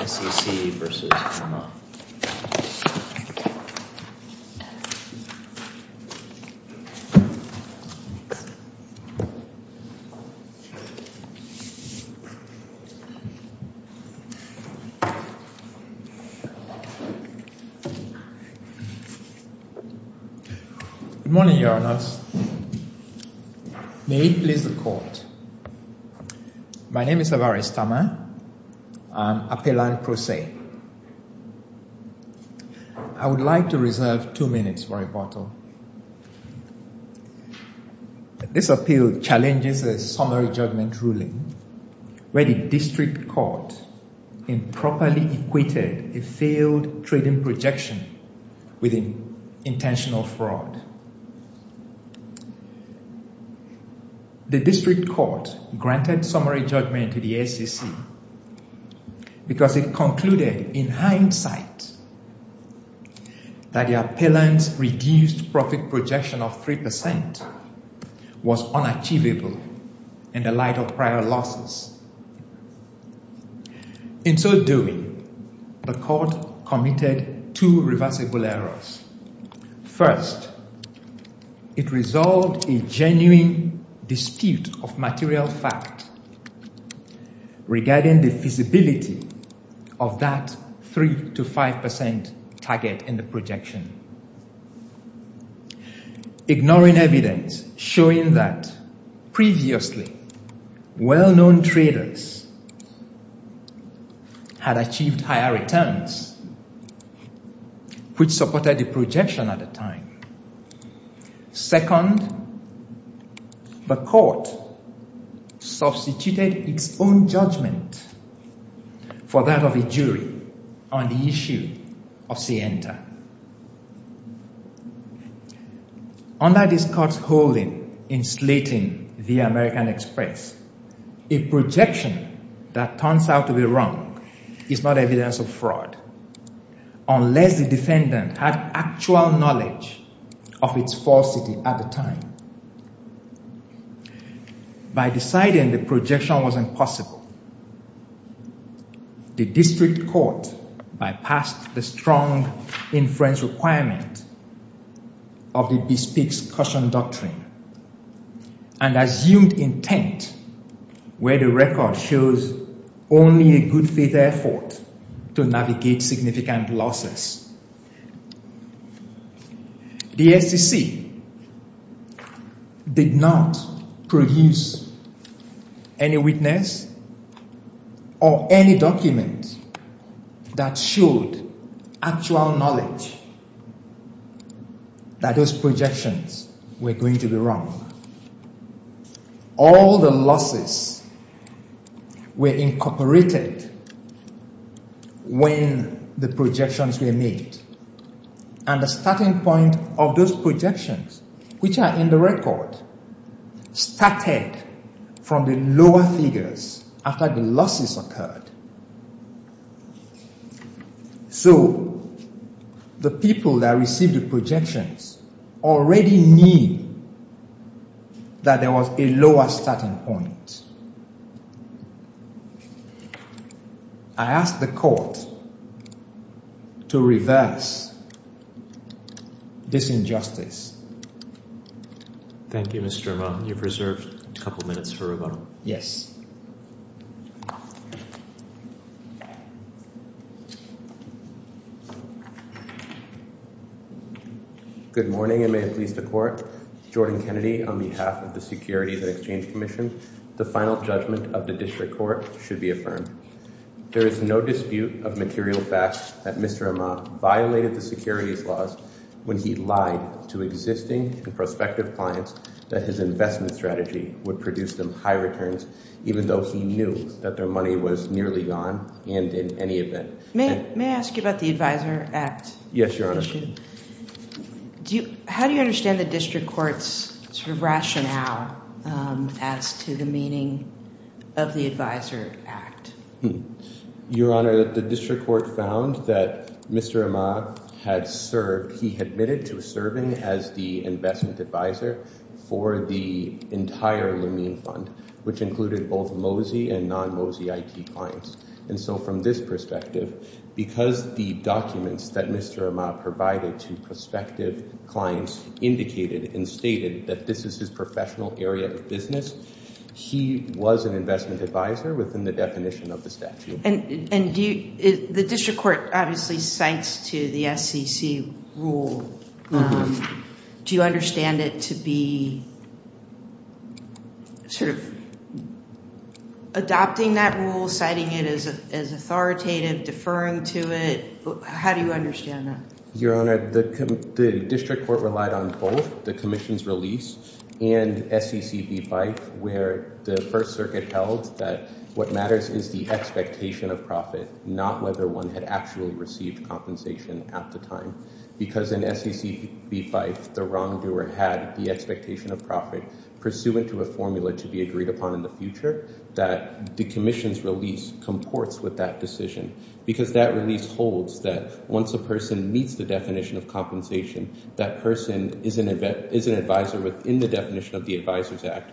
S.E.C. v. Amah Good morning, Your Honor. May it please the Court. My name is Amah S.E.C. I would like to reserve two minutes for rebuttal. This appeal challenges a summary judgment ruling where the district court improperly equated a failed trading projection with intentional fraud. The district court granted summary judgment to the S.E.C. because it concluded, in hindsight, that the appealant's reduced profit projection of 3% was unachievable in the light of prior losses. In so doing, the court committed two reversible errors. First, it resolved a genuine dispute of material fact regarding the feasibility of that 3-5% target in the projection, ignoring evidence showing that previously well-known traders had achieved higher returns, which supported the projection at the time. Second, the court substituted its own judgment for that of a jury on the issue of Sienta. Under this court's holding in Slating v. American Express, a projection that turns out to be wrong is not of fraud unless the defendant had actual knowledge of its falsity at the time. By deciding the projection was impossible, the district court bypassed the strong inference requirement of the Bespeak's caution doctrine and assumed intent where the record shows only a good faith effort to navigate significant losses. The S.E.C. did not produce any witness or any document that showed actual knowledge that those projections were going to be wrong. All the losses were incorporated when the projections were made, and the starting point of those projections, which are in the record, started from the lower figures after the losses occurred. So, the people that received the projections already knew that there was a lower starting point. I ask the court to reverse this injustice. Thank you, Mr. Irma. You've reserved a couple minutes for rebuttal. Yes. Good morning, and may it please the court. Jordan Kennedy on behalf of the Securities and Exchange Commission, the final judgment of the district court should be affirmed. There is no dispute of material facts that Mr. Irma violated the securities laws when he lied to existing and prospective clients that his investment strategy would produce them high returns, even though he knew that their money was nearly gone and in any event. May I ask you about the rationale as to the meaning of the Advisor Act? Your Honor, the district court found that Mr. Irma had served, he admitted to serving as the investment advisor for the entire Lumine fund, which included both MOSI and non-MOSI IT clients, and so from this perspective, because the documents that Mr. Irma provided to prospective clients indicated and stated that this is his professional area of business, he was an investment advisor within the definition of the statute. And the district court obviously cites to the SEC rule. Do you understand it to be sort of adopting that rule, citing it as authoritative, deferring to it? How do you understand that? Your Honor, the district court relied on both the Commission's release and SECB-FIFE, where the First Circuit held that what matters is the expectation of profit, not whether one had actually received compensation at the time. Because in SECB-FIFE, the wrongdoer had the expectation of profit pursuant to a formula to be agreed upon in the future, that the Commission's release comports with that decision. Because that release holds that once a person meets the definition of compensation, that person is an advisor within the definition of the Advisor's Act,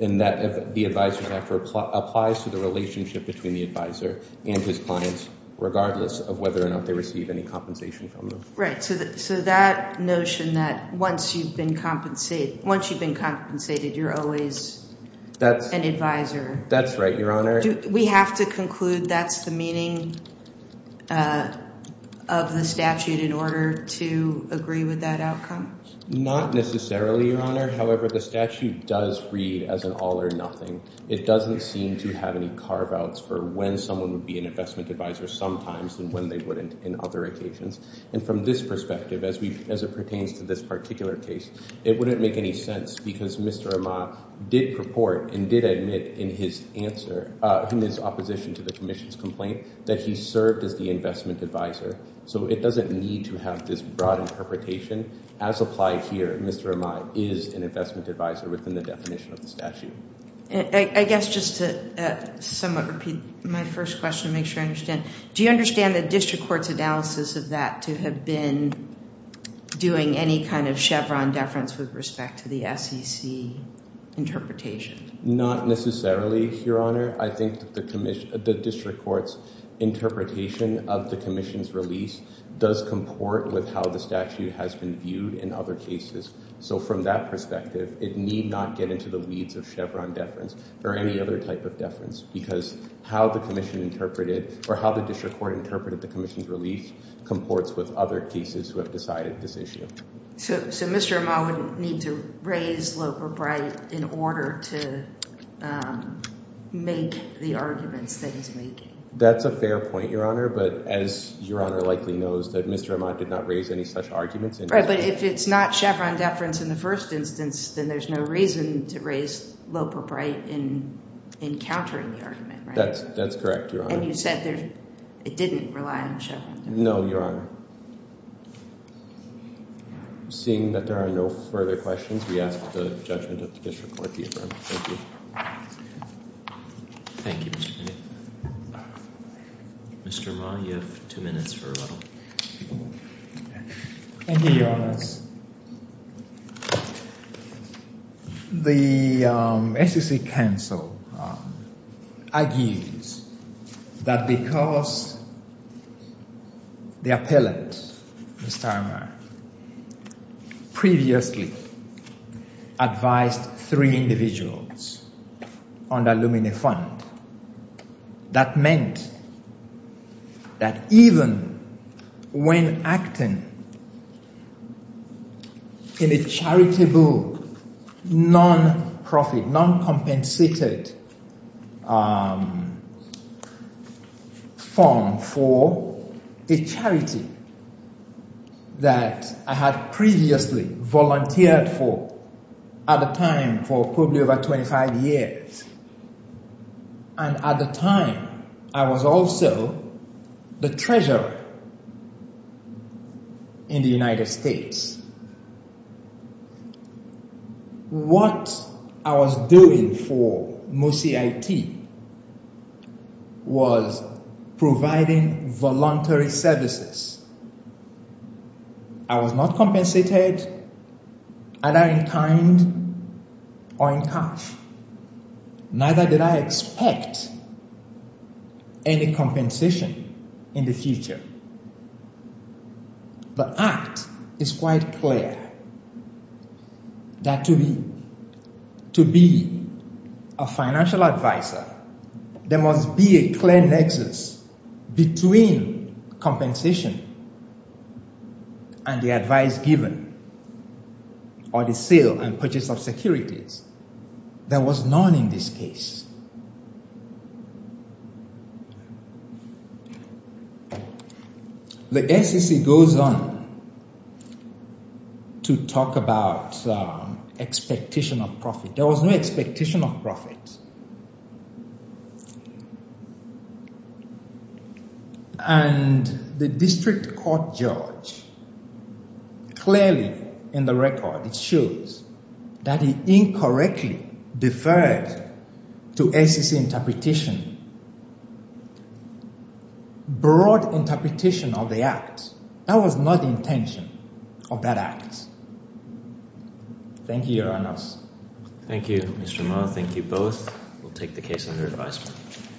and that the Advisor's Act applies to the relationship between the advisor and his clients, regardless of whether or not they receive any compensation from them. Right, so that notion that once you've been compensated, you're always an advisor. That's right, Your Honor. We have to conclude that's the meaning of the statute in order to agree with that outcome? Not necessarily, Your Honor. However, the statute does read as an all-or-nothing. It doesn't seem to have any carve-outs for when someone would be an investment advisor sometimes, and when they wouldn't in other occasions. And from this perspective, as it pertains to this particular case, it wouldn't make any sense because Mr. Amai did purport and did admit in his answer, in his opposition to the Commission's complaint, that he served as the investment advisor. So it doesn't need to have this broad interpretation. As applied here, Mr. Amai is an investment advisor within the definition of the statute. I guess just to somewhat repeat my first question to make sure I understand. Do you understand the District Court's analysis of that to have been doing any kind of Chevron deference with respect to the SEC interpretation? Not necessarily, Your Honor. I think that the District Court's interpretation of the Commission's release does comport with how the statute has been viewed in other cases. So from that perspective, it need not get into the weeds of Chevron deference or any other type of deference because how the Commission interpreted or how the District Court interpreted the Commission's release comports with other cases who have decided this issue. So Mr. Amai would need to raise Loper-Bright in order to make the arguments that he's making? That's a fair point, Your Honor, but as Your Honor likely knows that Mr. Amai did not raise any such arguments. Right, but if it's not Chevron deference in the first instance, then there's no reason to raise Loper-Bright in encountering the argument, right? That's correct, Your Honor. And you said it didn't rely on Chevron deference? No, Your Honor. Seeing that there are no further questions, we ask the judgment of the District Court to adjourn. Thank you. Thank you, Mr. Bennett. Mr. Amai, you have two minutes for rebuttal. Thank you, Your Honors. The SEC counsel argues that because the appellant, Mr. Amai, previously advised three individuals under Lumine Fund, that meant that even when acting in a charitable, non-profit, non-compensated form for a charity that I had previously volunteered for at the time for probably over 25 years, and at the time I was also the treasurer in the United States, what I was doing for MUSI-IT was providing voluntary services. I was not compensated either in kind or in cash. Neither did I expect any compensation in the future. But that is quite clear, that to be a financial advisor, there must be a clear nexus between compensation and the advice given or the sale and purchase of securities that was known in this case. The SEC goes on to talk about expectation of profit. There was no expectation of profit. And the District Court judge clearly in the record, it shows that he incorrectly deferred to SEC interpretation, broad interpretation of the act. That was not the intention of that act. Thank you, Your Honors. Thank you, Mr. Amai. Thank you both. We'll take the case under advisement.